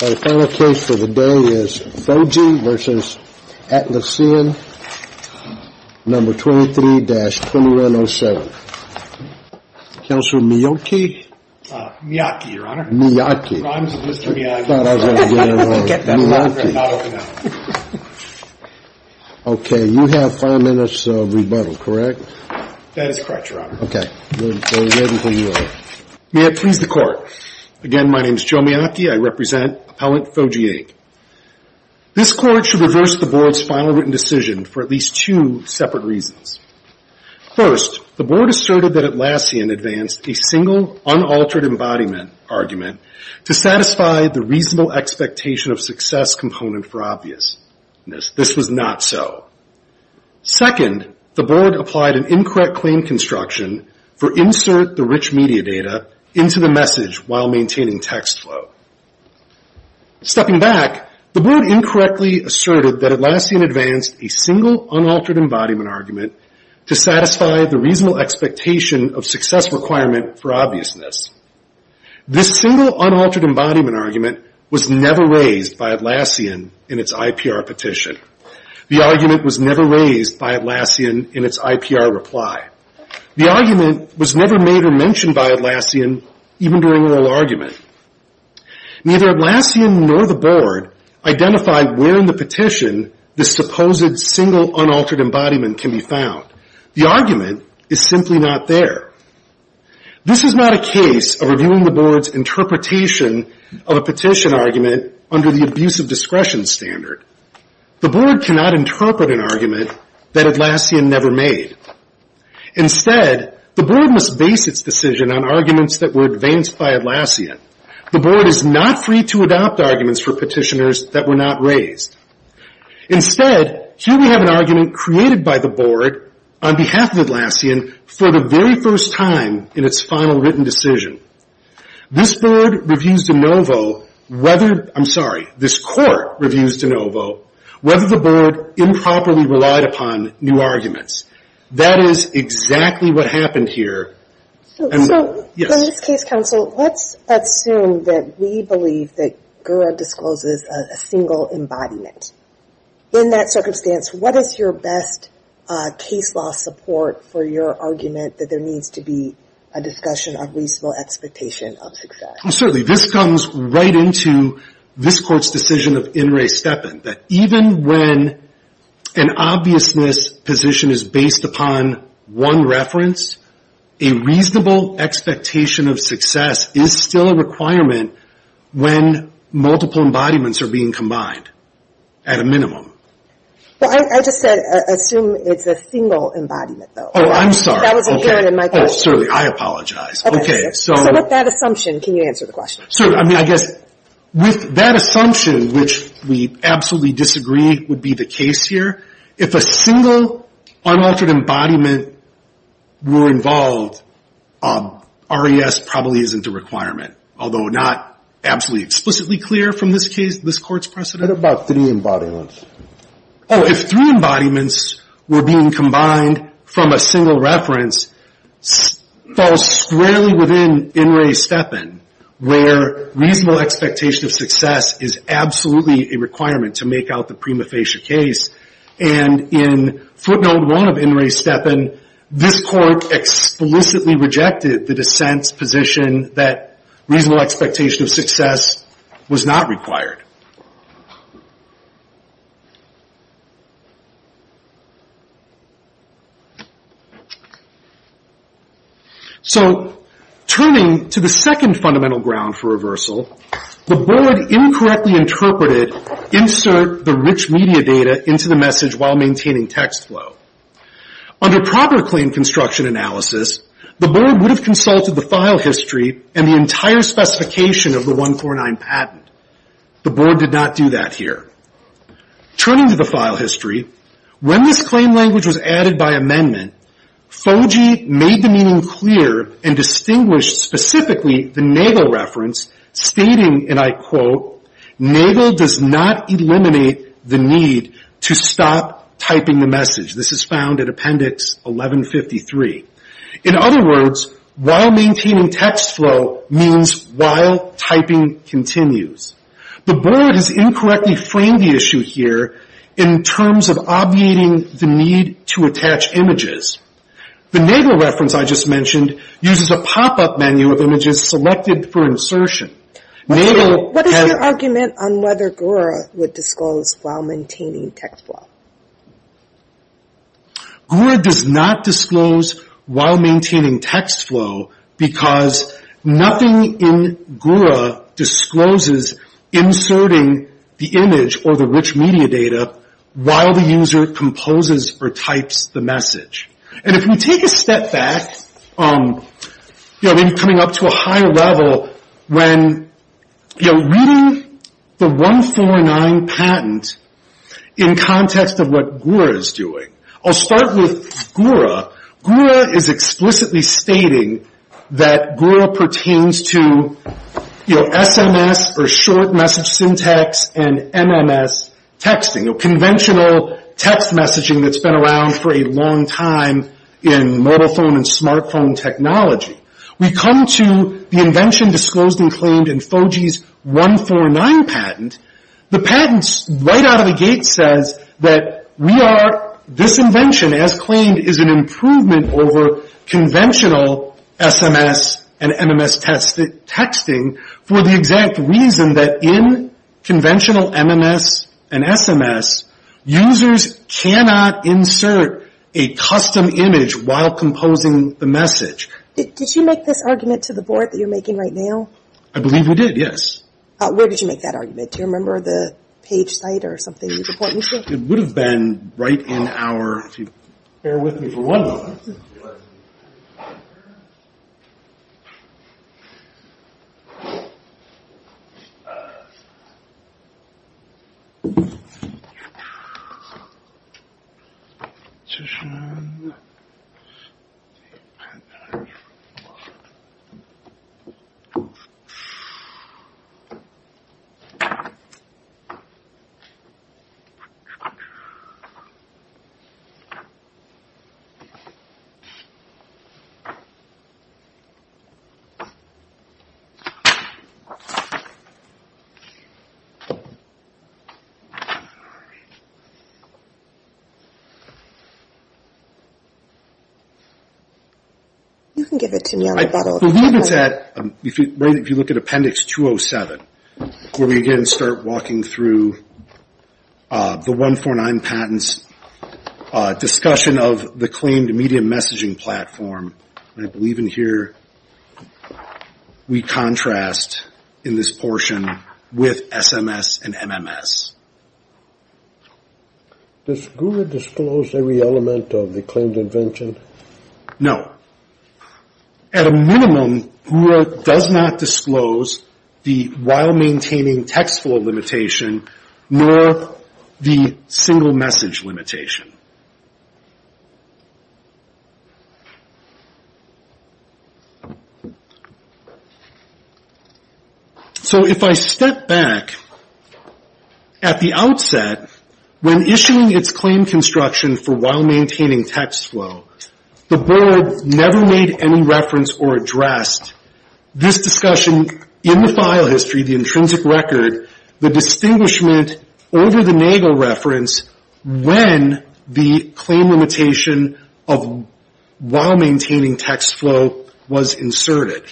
Our final case for the day is Foji v. Atlassian, No. 23-2107. Counselor Miyoki? Miyoki, Your Honor. Miyoki. Rhymes with Mr. Miyoki. I thought I was going to get it wrong. Miyoki. Get that letter and not open it up. Okay, you have five minutes of rebuttal, correct? That is correct, Your Honor. Okay, we're ready for you. May it please the Court. Again, my name is Joe Miyoki. I represent Appellant Foji, Inc. This Court should reverse the Board's final written decision for at least two separate reasons. First, the Board asserted that Atlassian advanced a single unaltered embodiment argument to satisfy the reasonable expectation of success component for obviousness. This was not so. Second, the Board applied an incorrect claim construction for insert the rich media data into the message while maintaining text flow. Stepping back, the Board incorrectly asserted that Atlassian advanced a single unaltered embodiment argument to satisfy the reasonable expectation of success requirement for obviousness. This single unaltered embodiment argument was never raised by Atlassian in its IPR petition. The argument was never raised by Atlassian in its IPR reply. The argument was never made or mentioned by Atlassian even during oral argument. Neither Atlassian nor the Board identified where in the petition the supposed single unaltered embodiment can be found. The argument is simply not there. This is not a case of reviewing the Board's interpretation of a petition argument under the abuse of discretion standard. The Board cannot interpret an argument that Atlassian never made. Instead, the Board must base its decision on arguments that were advanced by Atlassian. The Board is not free to adopt arguments for petitioners that were not raised. Instead, here we have an argument created by the Board on behalf of Atlassian for the very first time in its final written decision. This Court reviews de novo whether the Board improperly relied upon new arguments. That is exactly what happened here. So in this case, counsel, let's assume that we believe that Gura discloses a single embodiment. In that circumstance, what is your best case law support for your argument that there needs to be a discussion of reasonable expectation of success? Certainly. This comes right into this Court's decision of In re steppen, that even when an obviousness position is based upon one reference, a reasonable expectation of success is still a requirement when multiple embodiments are being combined at a minimum. Well, I just said assume it's a single embodiment, though. I'm sorry. I apologize. With that assumption, which we absolutely disagree would be the case here, if a single unaltered embodiment were involved, RES probably isn't a requirement, although not absolutely explicitly clear from this Court's precedent. What about three embodiments? Oh, if three embodiments were being combined from a single reference, it falls squarely within In re steppen, where reasonable expectation of success is absolutely a requirement to make out the prima facie case, and in footnote one of In re steppen, this Court explicitly rejected the dissent's position that reasonable expectation of success was not required. So, turning to the second fundamental ground for reversal, the Board incorrectly interpreted insert the rich media data into the message while maintaining text flow. Under proper claim construction analysis, the Board would have consulted the file history and the entire specification of the 149 patent. The Board did not do that here. Turning to the file history, when this claim language was added by amendment, FOGIE made the meaning clear and distinguished specifically the NAGLE reference stating, and I quote, NAGLE does not eliminate the need to stop typing the message. This is found at appendix 1153. In other words, while maintaining text flow means while typing continues. The Board has incorrectly framed the issue here in terms of obviating the need to attach images. The NAGLE reference I just mentioned uses a pop-up menu of images selected for insertion. What is your argument on whether GURA would disclose while maintaining text flow? GURA does not disclose while maintaining text flow because nothing in GURA discloses inserting the image or the rich media data while the user composes or types the message. And if we take a step back, you know, maybe coming up to a higher level, when the 149 patent in context of what GURA is doing, I'll start with GURA. GURA is explicitly stating that GURA pertains to SMS or short message syntax and MMS texting. Conventional text messaging that's been around for a long time in mobile phone and smart phones, that's been claimed in FOGE's 149 patent. The patent right out of the gate says that we are, this invention as claimed is an improvement over conventional SMS and MMS texting for the exact reason that in conventional MMS and SMS, users cannot insert a custom image while composing the message. Did you make this argument to the board that you're making right now? I believe we did, yes. Where did you make that argument? Do you remember the page site or something? It would have been right in our, if you bear with me for one moment. It would have been right in our, if you bear with me for one moment. I believe it's at, if you look at appendix 207, where we again start walking through the 149 patents discussion of the claimed media messaging platform. I believe in here we contrast in this portion with SMS and MMS. Does GURA disclose every element of the claimed invention? No. At a minimum, GURA does not disclose the while maintaining text flow limitation, nor the single message limitation. So if I step back at the outset, when issuing its claim construction for while maintaining text flow, the board never made any reference or addressed this discussion in the file history, the intrinsic record, the distinguishment over the NAGLE reference when the claim limitation of while maintaining text flow was inserted.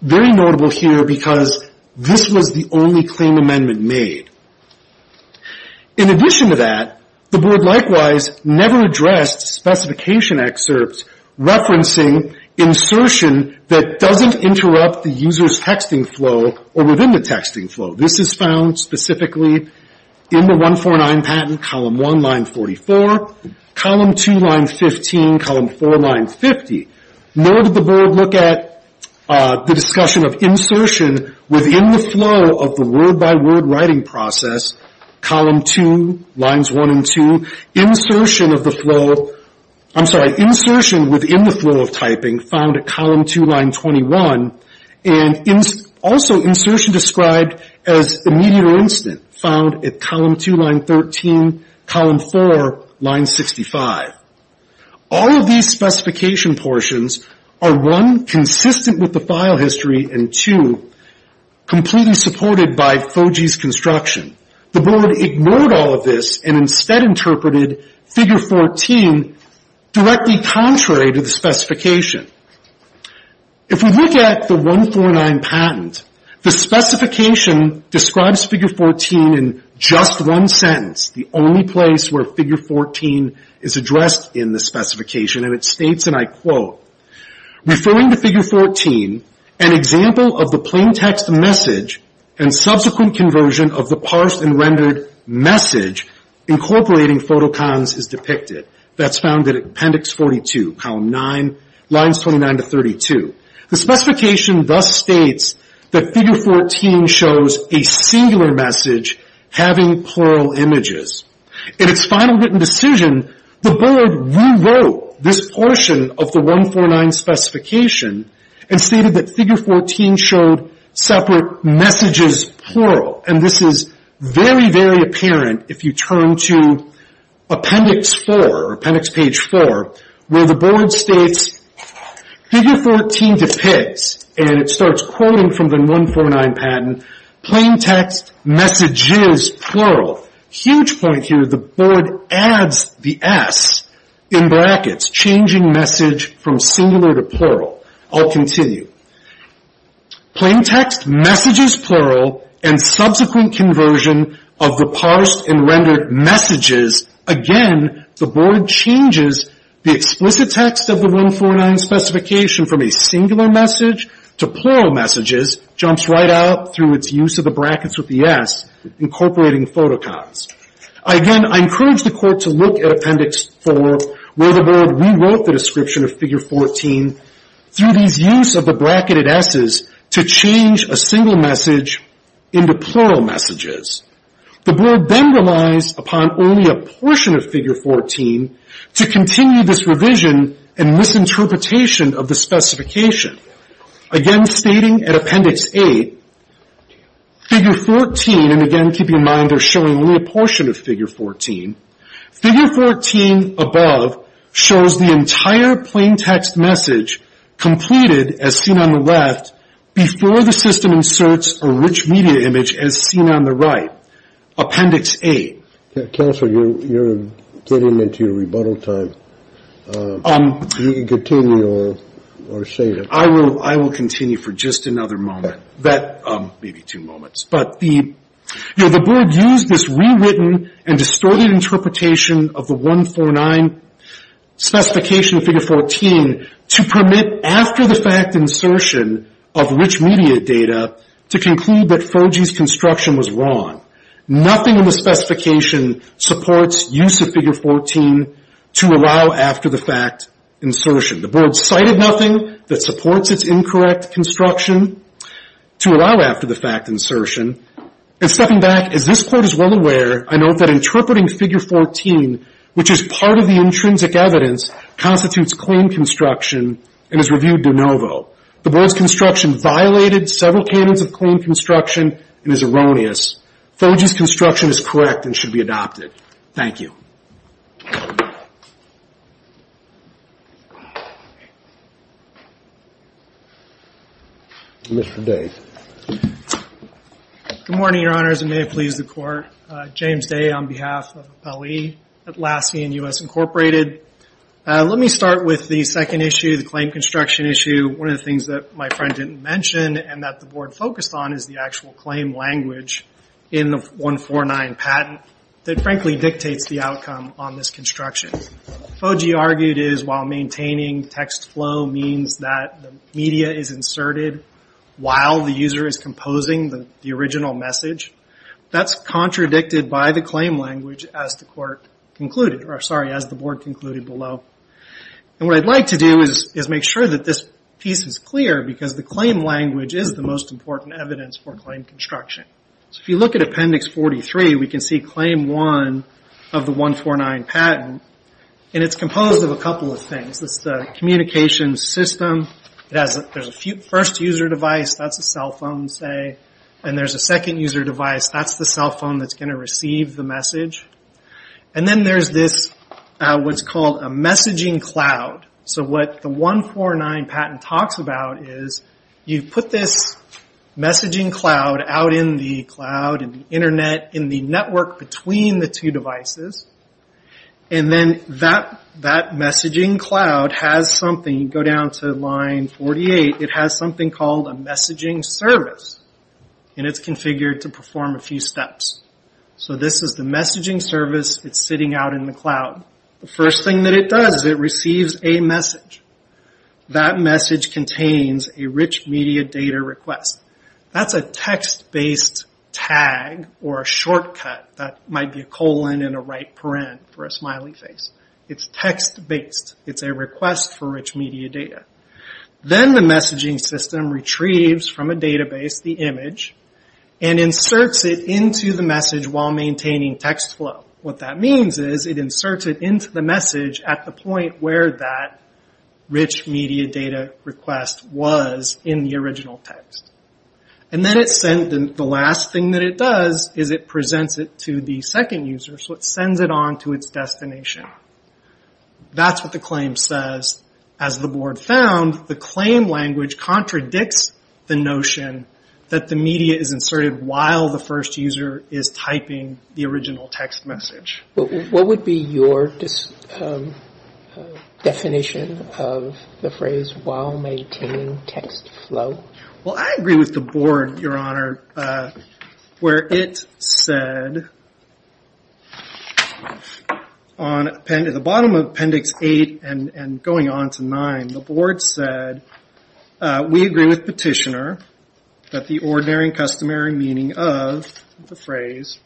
Very notable here because this was the only claim amendment made. In addition to that, the board likewise never addressed specification excerpts referencing insertion that doesn't interrupt the user's texting flow or within the texting flow. This is found specifically in the 149 patent column 1, line 44, column 2, line 15, column 4, line 50. Nor did the board look at the discussion of insertion within the flow of the word-by-word writing process. Column 2, lines 1 and 2, insertion of the flow, I'm sorry, insertion within the flow of typing found at column 2, line 21, and also insertion described as immediate or instant found at column 2, line 13, column 4, line 65. All of these specification portions are, one, consistent with the file history, and two, completely supported by FOGE's construction. The board ignored all of this and instead interpreted figure 14 directly contrary to the specification. If we look at the 149 patent, the specification describes figure 14 in just one sentence, the only place where figure 14 is addressed in the specification, and it states, and I quote, referring to figure 14, an example of the plain text message and subsequent conversion of the parsed and rendered message incorporating photocons is depicted. That's found in appendix 42, column 9, lines 29 to 32. The specification thus states that figure 14 shows a singular message having plural images. In its final written decision, the board rewrote this portion of the 149 specification and stated that figure 14 showed separate messages plural, and this is very, very apparent if you turn to appendix 4, appendix page 4, where the board states figure 14 depicts, and it starts quoting from the 149 patent, plain text messages plural. Huge point here, the board adds the S in brackets, changing message from singular to plural. I'll continue. Plain text messages plural and subsequent conversion of the parsed and rendered messages. Again, the board changes the explicit text of the 149 specification from a singular message to plural messages, jumps right out through its use of the brackets with the S, incorporating photocons. Again, I encourage the court to look at appendix 4, where the board rewrote the description of figure 14 through these use of the bracketed S's to change a single message into plural messages. The board then relies upon only a portion of figure 14 to continue this revision and this interpretation of the specification. Again, stating at appendix 8, figure 14, and again, keep in mind they're showing only a portion of figure 14, figure 14 above shows the entire plain text message completed, as seen on the left, before the system inserts a rich media image, as seen on the right, appendix 8. Counsel, you're getting into your rebuttal time. Continue or save it. I will continue for just another moment. Maybe two moments. But the board used this rewritten and distorted interpretation of the 149 specification, figure 14, to permit after-the-fact insertion of rich media data to conclude that Fergie's construction was wrong. Nothing in the specification supports use of figure 14 to allow after-the-fact insertion. The board cited nothing that supports its incorrect construction to allow after-the-fact insertion. And stepping back, as this court is well aware, I note that interpreting figure 14, which is part of the intrinsic evidence, constitutes clean construction and is reviewed de novo. The board's construction violated several canons of clean construction and is erroneous. Fergie's construction is correct and should be adopted. Thank you. Mr. Day. Good morning, Your Honors, and may it please the Court. James Day on behalf of Appellee, Atlassian U.S. Incorporated. Let me start with the second issue, the claim construction issue. One of the things that my friend didn't mention and that the board focused on is the actual claim language in the 149 patent that frankly dictates the outcome on this case. Fergie argued that while maintaining text flow means that the media is inserted while the user is composing the original message, that's contradicted by the claim language as the board concluded below. What I'd like to do is make sure that this piece is clear because the claim language is the most important evidence for claim construction. If you look at Appendix 43, we can see Claim 1 of the 149 patent. It's composed of a couple of things. There's the communications system. There's a first user device, that's a cell phone, say. There's a second user device, that's the cell phone that's going to receive the message. Then there's what's called a messaging cloud. What the 149 patent talks about is you put this messaging cloud out in the cloud, in the internet, in the network between the two devices. Then that messaging cloud has something, go down to line 48, it has something called a messaging service. It's configured to perform a few steps. This is the messaging service. It's sitting out in the cloud. The first thing that it does is it receives a message. That message contains a rich media data request. That's a text-based tag or a shortcut. That might be a colon and a right parent for a smiley face. It's text-based. It's a request for rich media data. Then the messaging system retrieves from a database the image and inserts it into the message while maintaining text flow. What that means is it inserts it into the message at the point where that rich media data request was in the original text. Then the last thing that it does is it presents it to the second user. It sends it on to its destination. That's what the claim says. As the board found, the claim language contradicts the notion that the media is inserted while the first user is typing the original text message. What would be your definition of the phrase while maintaining text flow? I agree with the board, Your Honor. At the bottom of Appendix 8 and going on to 9, the board said, we agree with Petitioner that the ordinary and customary meaning of the phrase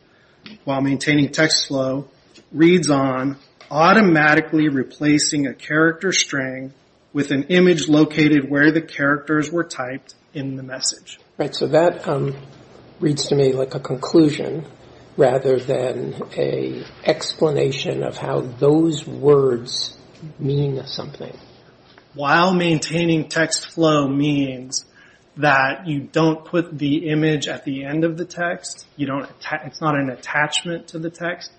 while maintaining text flow reads on automatically replacing a character string with an image located where the characters were typed in the message. While maintaining text flow means that you don't put the image at the end of the text. It's not an attachment to the text.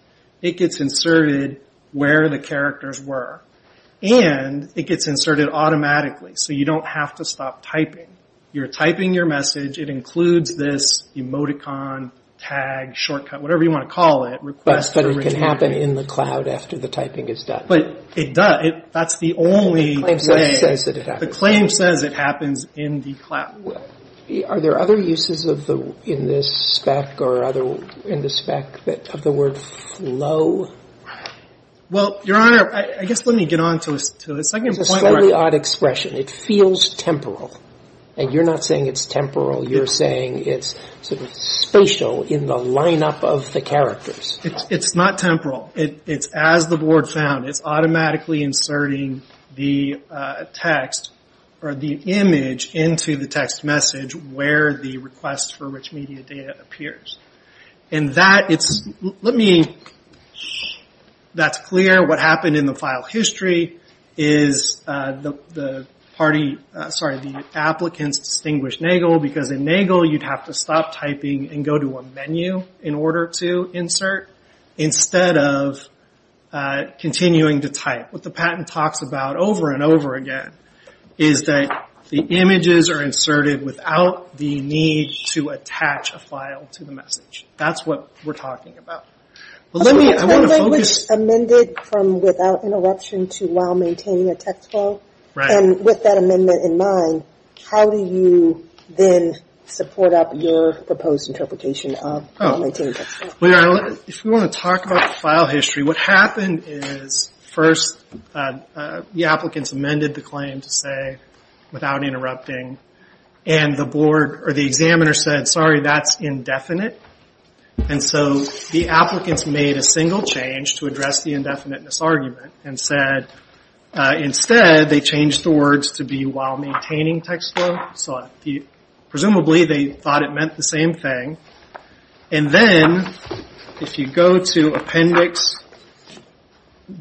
It gets inserted where the characters were. It gets inserted automatically, so you don't have to stop typing. You're typing your message. It includes this emoticon, tag, shortcut, whatever you want to call it. It can happen in the cloud after the typing is done. But it does. That's the only way. The claim says it happens in the cloud. Are there other uses in this spec of the word flow? Well, Your Honor, I guess let me get on to the second point. It's a slightly odd expression. It feels temporal. You're not saying it's temporal. You're saying it's spatial in the lineup of the characters. It's not temporal. It's as the board found. It's automatically inserting the text or the image into the text message where the request for rich media data appears. That's clear. What happened in the file history is the applicants distinguished Nagel because in Nagel you'd have to stop typing and go to a menu in order to insert instead of continuing to type. What the patent talks about over and over again is that the images are inserted without the need to attach a file to the message. That's what we're talking about. Without interruption to while maintaining a text flow. With that amendment in mind, how do you then support up your proposed interpretation of while maintaining a text flow? If you want to talk about the file history, what happened is first the applicants amended the claim to say without interrupting. The examiner said, sorry, that's indefinite. The applicants made a single change to address the indefinite misargument and said instead they changed the words to be while maintaining text flow. Presumably they thought it meant the same thing. Then if you go to appendix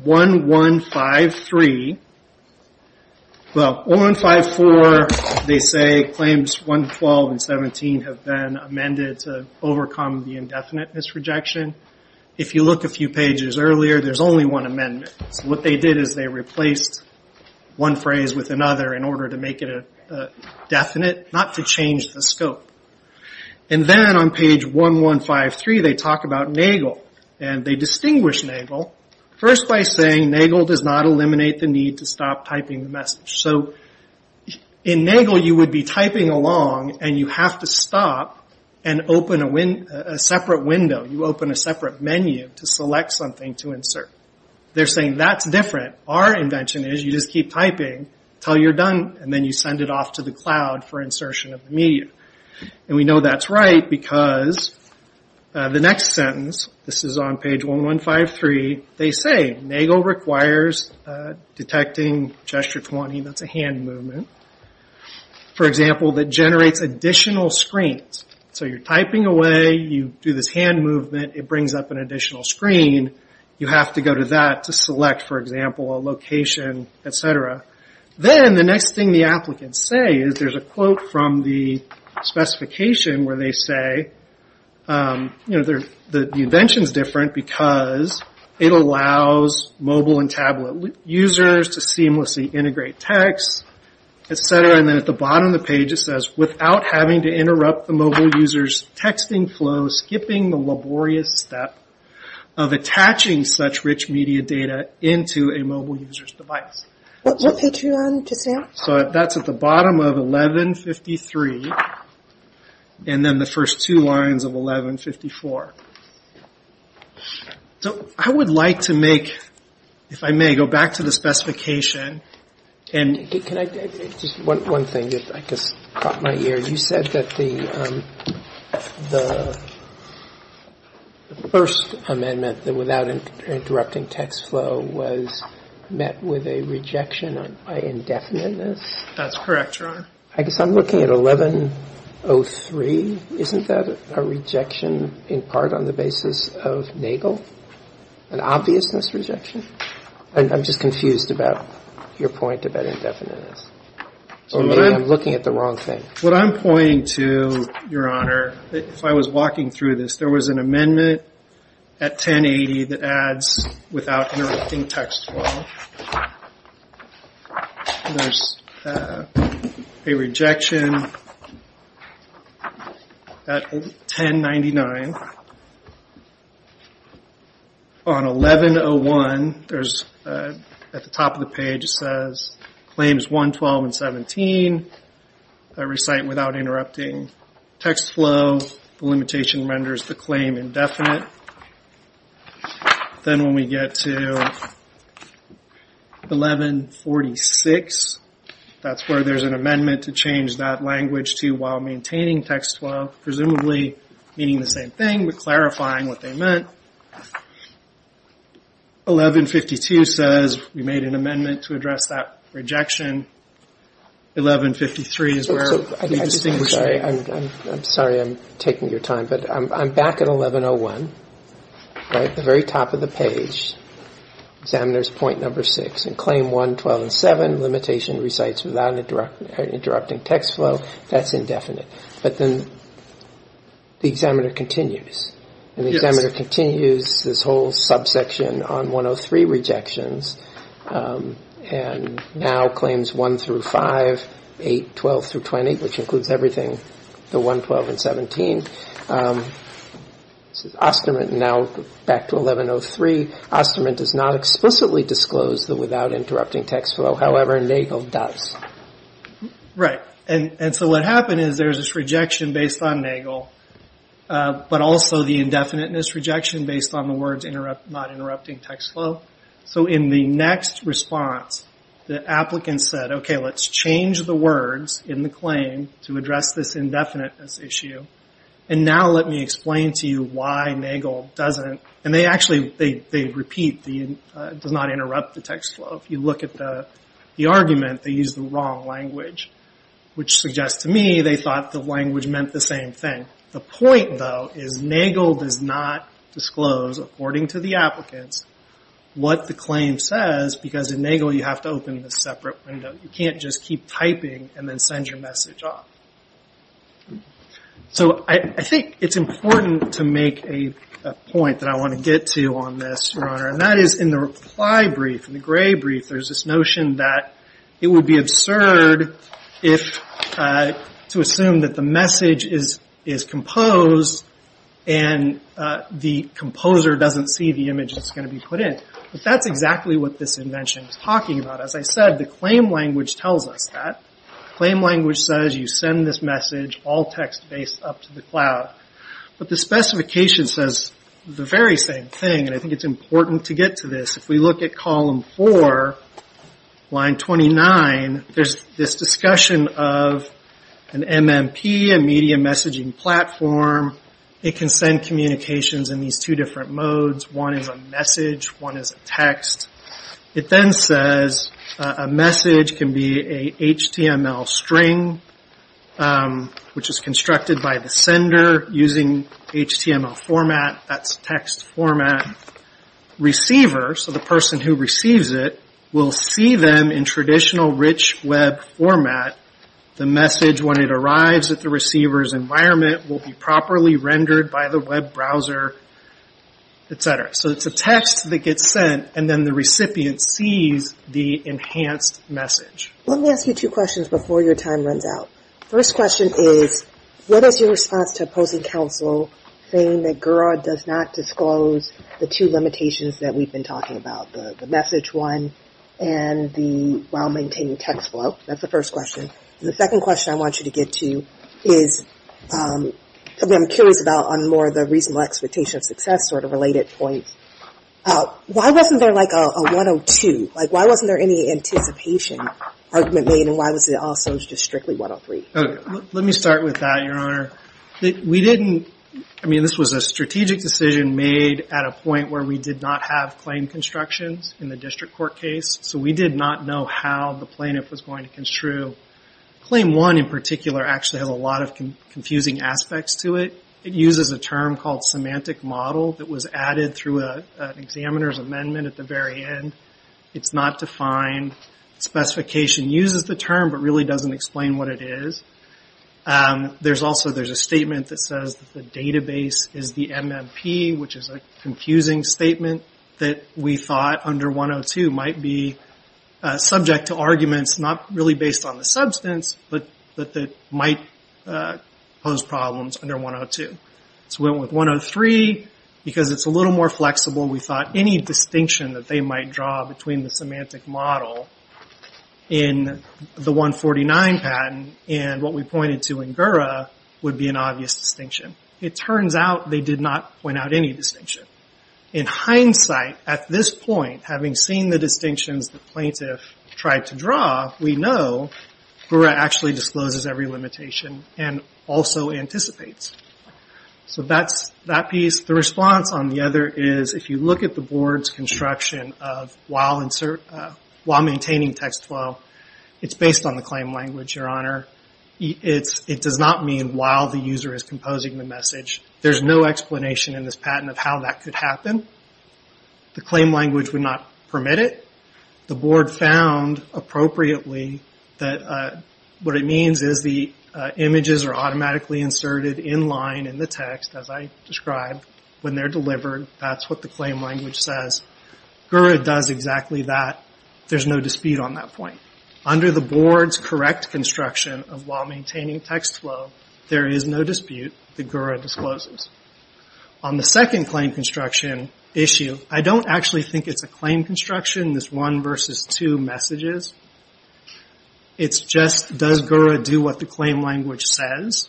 1153, well 1154 they say claims 112 and 17 have been amended to overcome the indefinite misrejection. If you look a few pages earlier, there's only one amendment. What they did is they replaced one phrase with another in order to make it definite, not to change the scope. Then on page 1153 they talk about Nagel. They distinguish Nagel first by saying Nagel does not eliminate the need to stop typing the message. In Nagel you would be typing along and you have to stop and open a separate window. You open a separate menu to select something to insert. They're saying that's different. Our invention is you just keep typing until you're done. Then you send it off to the cloud for insertion of the media. We know that's right because the next sentence, this is on page 1153, they say Nagel requires detecting gesture 20, that's a hand movement for example that generates additional screens. You're typing away, you do this hand movement, it brings up an additional screen. You have to go to that to select for example a location, etc. Then the next thing the applicants say is there's a quote from the specification where they say the invention is different because it allows mobile and tablet users to seamlessly integrate text, etc. Then at the bottom of the page it says without having to interrupt the mobile user's texting flow skipping the laborious step of attaching such rich media data into a mobile user's device. That's at the bottom of 1153 and then the first two lines of 1154. I would like to make, if I may, go back to the specification. One thing that caught my ear, you said that the first amendment that without interrupting text flow was met with a rejection by indefiniteness. That's correct, Your Honor. I guess I'm looking at 1103. Isn't that a rejection in part on the basis of Nagel, an obvious misrejection? I'm just confused about your point about indefiniteness. I'm looking at the wrong thing. What I'm pointing to, Your Honor, if I was walking through this, there was an amendment at 1080 that adds without interrupting text flow. There's a rejection at 1099. On 1101 there's at the top of the page it says claims 112 and 17 that recite without interrupting text flow. The limitation renders the claim indefinite. Then when we get to 1146, that's where there's an amendment to change that language to while maintaining text flow, presumably meaning the same thing but clarifying what they meant. 1152 says we made an amendment to address that rejection. 1153 is where we distinguish. I'm sorry I'm taking your time, but I'm back at 1101, right at the very top of the page, examiner's point number 6. In claim 112 and 7, limitation recites without interrupting text flow. That's indefinite. But then the examiner continues. And the examiner continues this whole subsection on 103 rejections and now claims 1 through 5, 8, 12 through 20, which includes everything, the 112 and 17. Osterman now back to 1103, Osterman does not explicitly disclose the without interrupting text flow. However, Nagel does. So what happened is there's this rejection based on Nagel, but also the indefiniteness rejection based on the words not interrupting text flow. So in the next response, the applicant said, okay, let's change the words in the claim to address this indefiniteness issue. And now let me explain to you why Nagel doesn't. And they actually repeat the does not interrupt the text flow. If you look at the argument, they use the wrong language, which suggests to me they thought the language meant the same thing. The point, though, is Nagel does not disclose, according to the applicants, what the claim says, because in Nagel you have to open this separate window. You can't just keep typing and then send your message off. So I think it's important to make a point that I want to get to on this, Your Honor, and that is in the reply brief, in the gray brief, there's this notion that it would be absurd if, to assume that the message is composed and the composer doesn't see the image that's going to be put in. But that's exactly what this invention is talking about. As I said, the claim language tells us that. The claim language says you send this message, all text based, up to the cloud. But the specification says the very same thing. And I think it's important to get to this. If we look at column four, line 29, there's this discussion of an MMP, a media messaging platform. It can send communications in these two different modes. One is a message, one is a text. It then says a message can be a HTML string, which is constructed by the sender using HTML format, that's text format. Receiver, so the person who receives it, will see them in traditional rich web format. The message, when it arrives at the receiver's environment, will be properly rendered by the web browser, etc. So it's a text that gets sent, and then the recipient sees the enhanced message. Let me ask you two questions before your time runs out. First question is, what is your response to opposing counsel saying that Gura does not disclose the two limitations that we've been talking about, the message one and the well-maintained text flow? That's the first question. And the second question I want you to get to is, I'm curious about on more of the reasonable expectation of success sort of related points. Why wasn't there like a 102? Like why wasn't there any anticipation argument made, and why was it also just strictly 103? Let me start with that, Your Honor. We didn't, I mean this was a strategic decision made at a point where we did not have claim constructions in the district court case, so we did not know how the plaintiff was going to construe. Claim one, in particular, actually has a lot of confusing aspects to it. It uses a term called semantic model that was added through an examiner's amendment at the very end. It's not defined. Specification uses the term, but really doesn't explain what it is. There's also a statement that says the database is the MMP, which is a confusing statement that we thought under 102 might be subject to arguments, not really based on the substance, but that might pose problems under 102. So we went with 103, because it's a little more flexible. We thought any distinction that they might draw between the semantic model in the 149 patent and what we pointed to in Gura would be an obvious distinction. It turns out they did not point out any distinction. In hindsight, at this point, having seen the distinctions the plaintiff tried to draw, we know Gura actually discloses every limitation and also anticipates. So that piece, the response on the other is, if you look at the board's construction of while maintaining text flow, it's based on the claim language, your honor. It does not mean while the user is composing the message. There's no explanation in this patent of how that could happen. The claim language would not permit it. The board found, appropriately, that what it means is the images are automatically inserted in line in the text, as I described, when they're delivered. That's what the claim language says. Gura does exactly that. There's no dispute on that point. Under the board's correct construction of while maintaining text flow, there is no dispute that Gura discloses. On the second claim construction issue, I don't actually think it's a claim construction, this one versus two messages. It's just, does Gura do what the claim language says?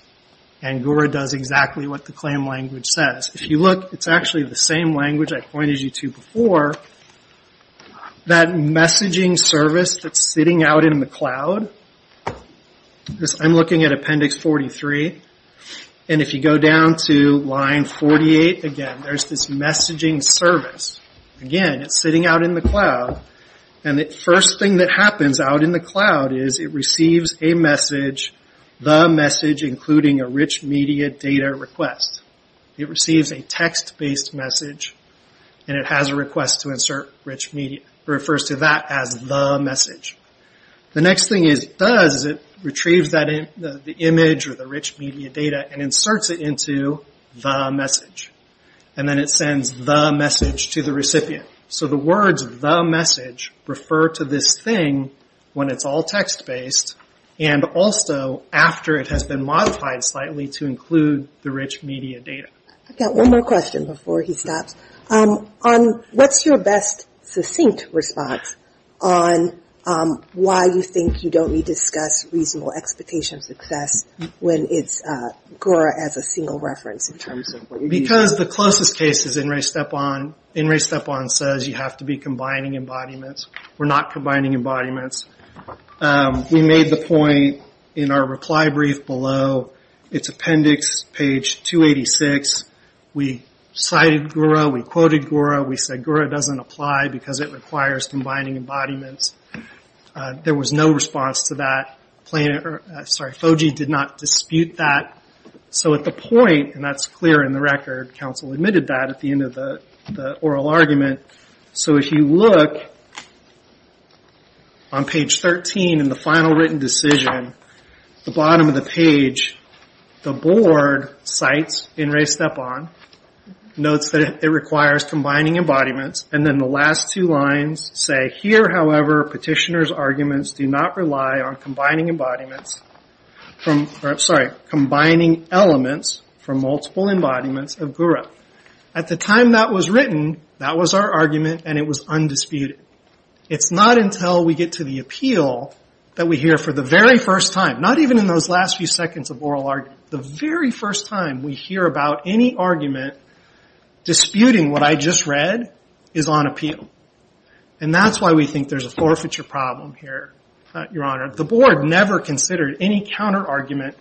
And Gura does exactly what the claim language says. If you look, it's actually the same language I pointed you to before. That messaging service that's sitting out in the cloud, I'm looking at appendix 43, and if you go down to line 48, again, there's this messaging service. Again, it's sitting out in the cloud. The first thing that happens out in the cloud is it receives a message, the message including a rich media data request. It receives a text-based message and it has a request to insert rich media. It refers to that as the message. The next thing it does is it retrieves the image or the message to the recipient. The words, the message, refer to this thing when it's all text-based and also after it has been modified slightly to include the rich media data. What's your best succinct response on why you think you don't need to discuss reasonable expectation of success when it's a single reference in terms of what you're using? Because the closest case is N. Ray Stepon. N. Ray Stepon says you have to be combining embodiments. We're not combining embodiments. We made the point in our reply brief below, it's appendix page 286. We cited Gura. We quoted Gura. We said Gura doesn't apply because it requires combining embodiments. There was no response to that. FOGI did not dispute that. At the point, and that's clear in the record, council admitted that at the end of the oral argument. If you look on page 13 in the final written decision, the bottom of the page, the board cites N. Ray Stepon, notes that it requires combining embodiments, and then the last two lines say, here, however, petitioner's arguments do not rely on combining embodiments from, sorry, combining elements from multiple embodiments of Gura. At the time that was written, that was our argument, and it was undisputed. It's not until we get to the appeal that we hear for the very first time, not even in those last few seconds of oral argument, the very first time we hear about any argument disputing what I just read is on appeal, and that's why we think there's a forfeiture problem here, Your Honor. The board never considered any counterargument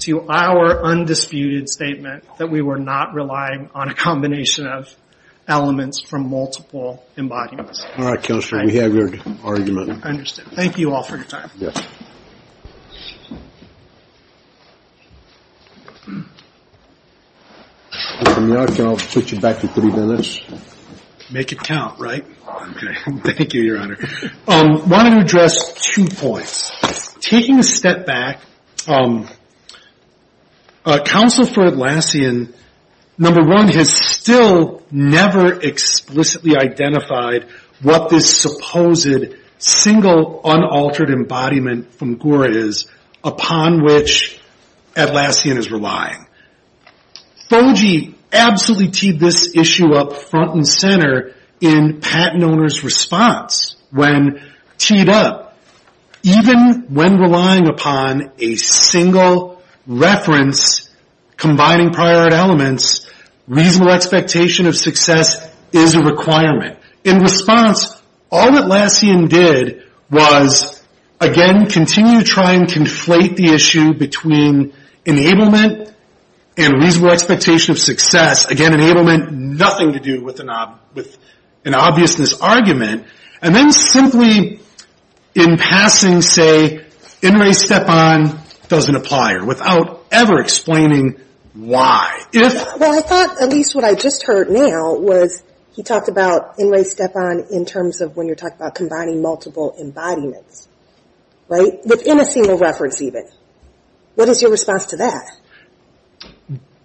to our undisputed statement that we were not relying on a combination of elements from multiple embodiments. All right, Counselor, we have your argument. Understood. Thank you all for your time. Your Honor, can I switch it back to three minutes? Make it count, right? Okay. Thank you, Your Honor. Wanted to address two points. Taking a step back, Counsel for Atlassian, number one, has still never explicitly identified what this supposed single unaltered embodiment from Gura is upon which Atlassian is relying. FOGI absolutely teed this issue up front and center in patent owners' response when teed up. Even when relying upon a single reference combining prior art elements, reasonable expectation of success is a requirement. In response, all Atlassian did was, again, continue to try and conflate the issue between enablement and reasonable expectation of success. Again, enablement, nothing to do with an obviousness argument. And then simply in passing say, in re step on doesn't apply, without ever explaining why. Well, I thought at least what I just heard now was he talked about in re step on in terms of when you're talking about combining multiple embodiments, right? Within a single reference even. What is your response to that?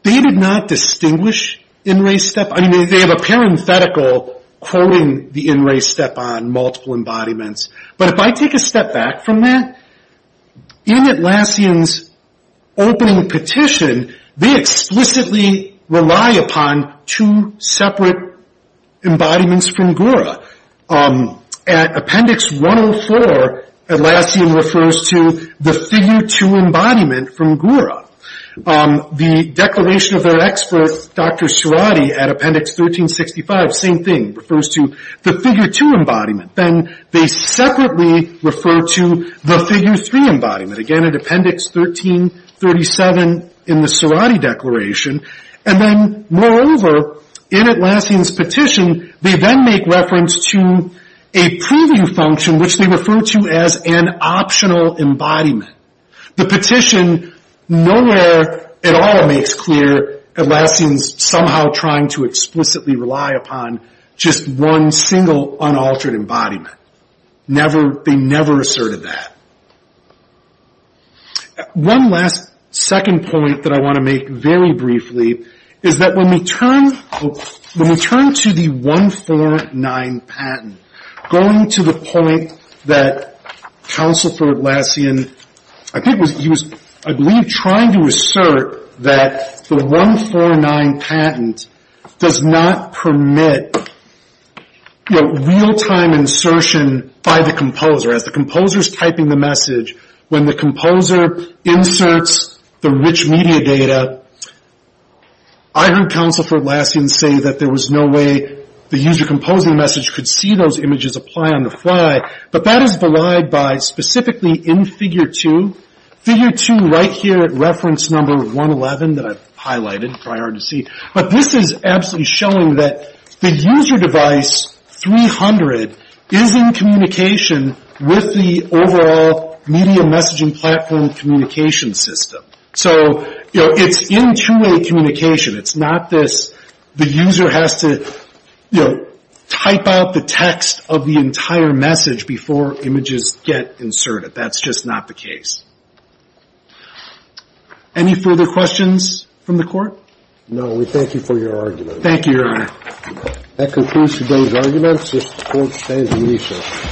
They did not distinguish in re step on. They have a parenthetical quoting the in re step on multiple embodiments. But if I take a step back from that, in Atlassian's opening petition, they explicitly rely upon two separate embodiments from Gura. At appendix 104, Atlassian refers to the figure two embodiment from Gura. The declaration of their expert, Dr. Surati, at appendix 1365, same thing, refers to the figure two embodiment. Then they separately refer to the figure three embodiment. Again, at appendix 1337 in the Surati declaration. And then moreover, in Atlassian's petition, they then make reference to a proving function, which they refer to as an optional embodiment. The petition nowhere at all makes clear Atlassian's somehow trying to explicitly rely upon just one single unaltered embodiment. They never asserted that. One last second point that I want to make very briefly is that when we turn to the 149 patent, going to the point that Counsel for Atlassian, I think he was, I believe, trying to assert that the 149 patent does not permit real-time insertion by the composer. As the composer's typing the message, when the composer inserts the rich media data, I heard Counsel for Atlassian say that there was no way the user composing the message could see those images apply on the fly. But that is belied by specifically in figure two. Figure two right here at reference number 111 that I've highlighted, prior to C. But this is absolutely showing that the user device 300 is in communication with the overall media messaging platform communication system. So it's in two-way communication. It's not this the user has to, you know, type out the text of the entire message before images get inserted. That's just not the case. Any further questions from the Court? No. We thank you for your argument. Thank you, Your Honor. That concludes today's arguments. If the Court stands in recess.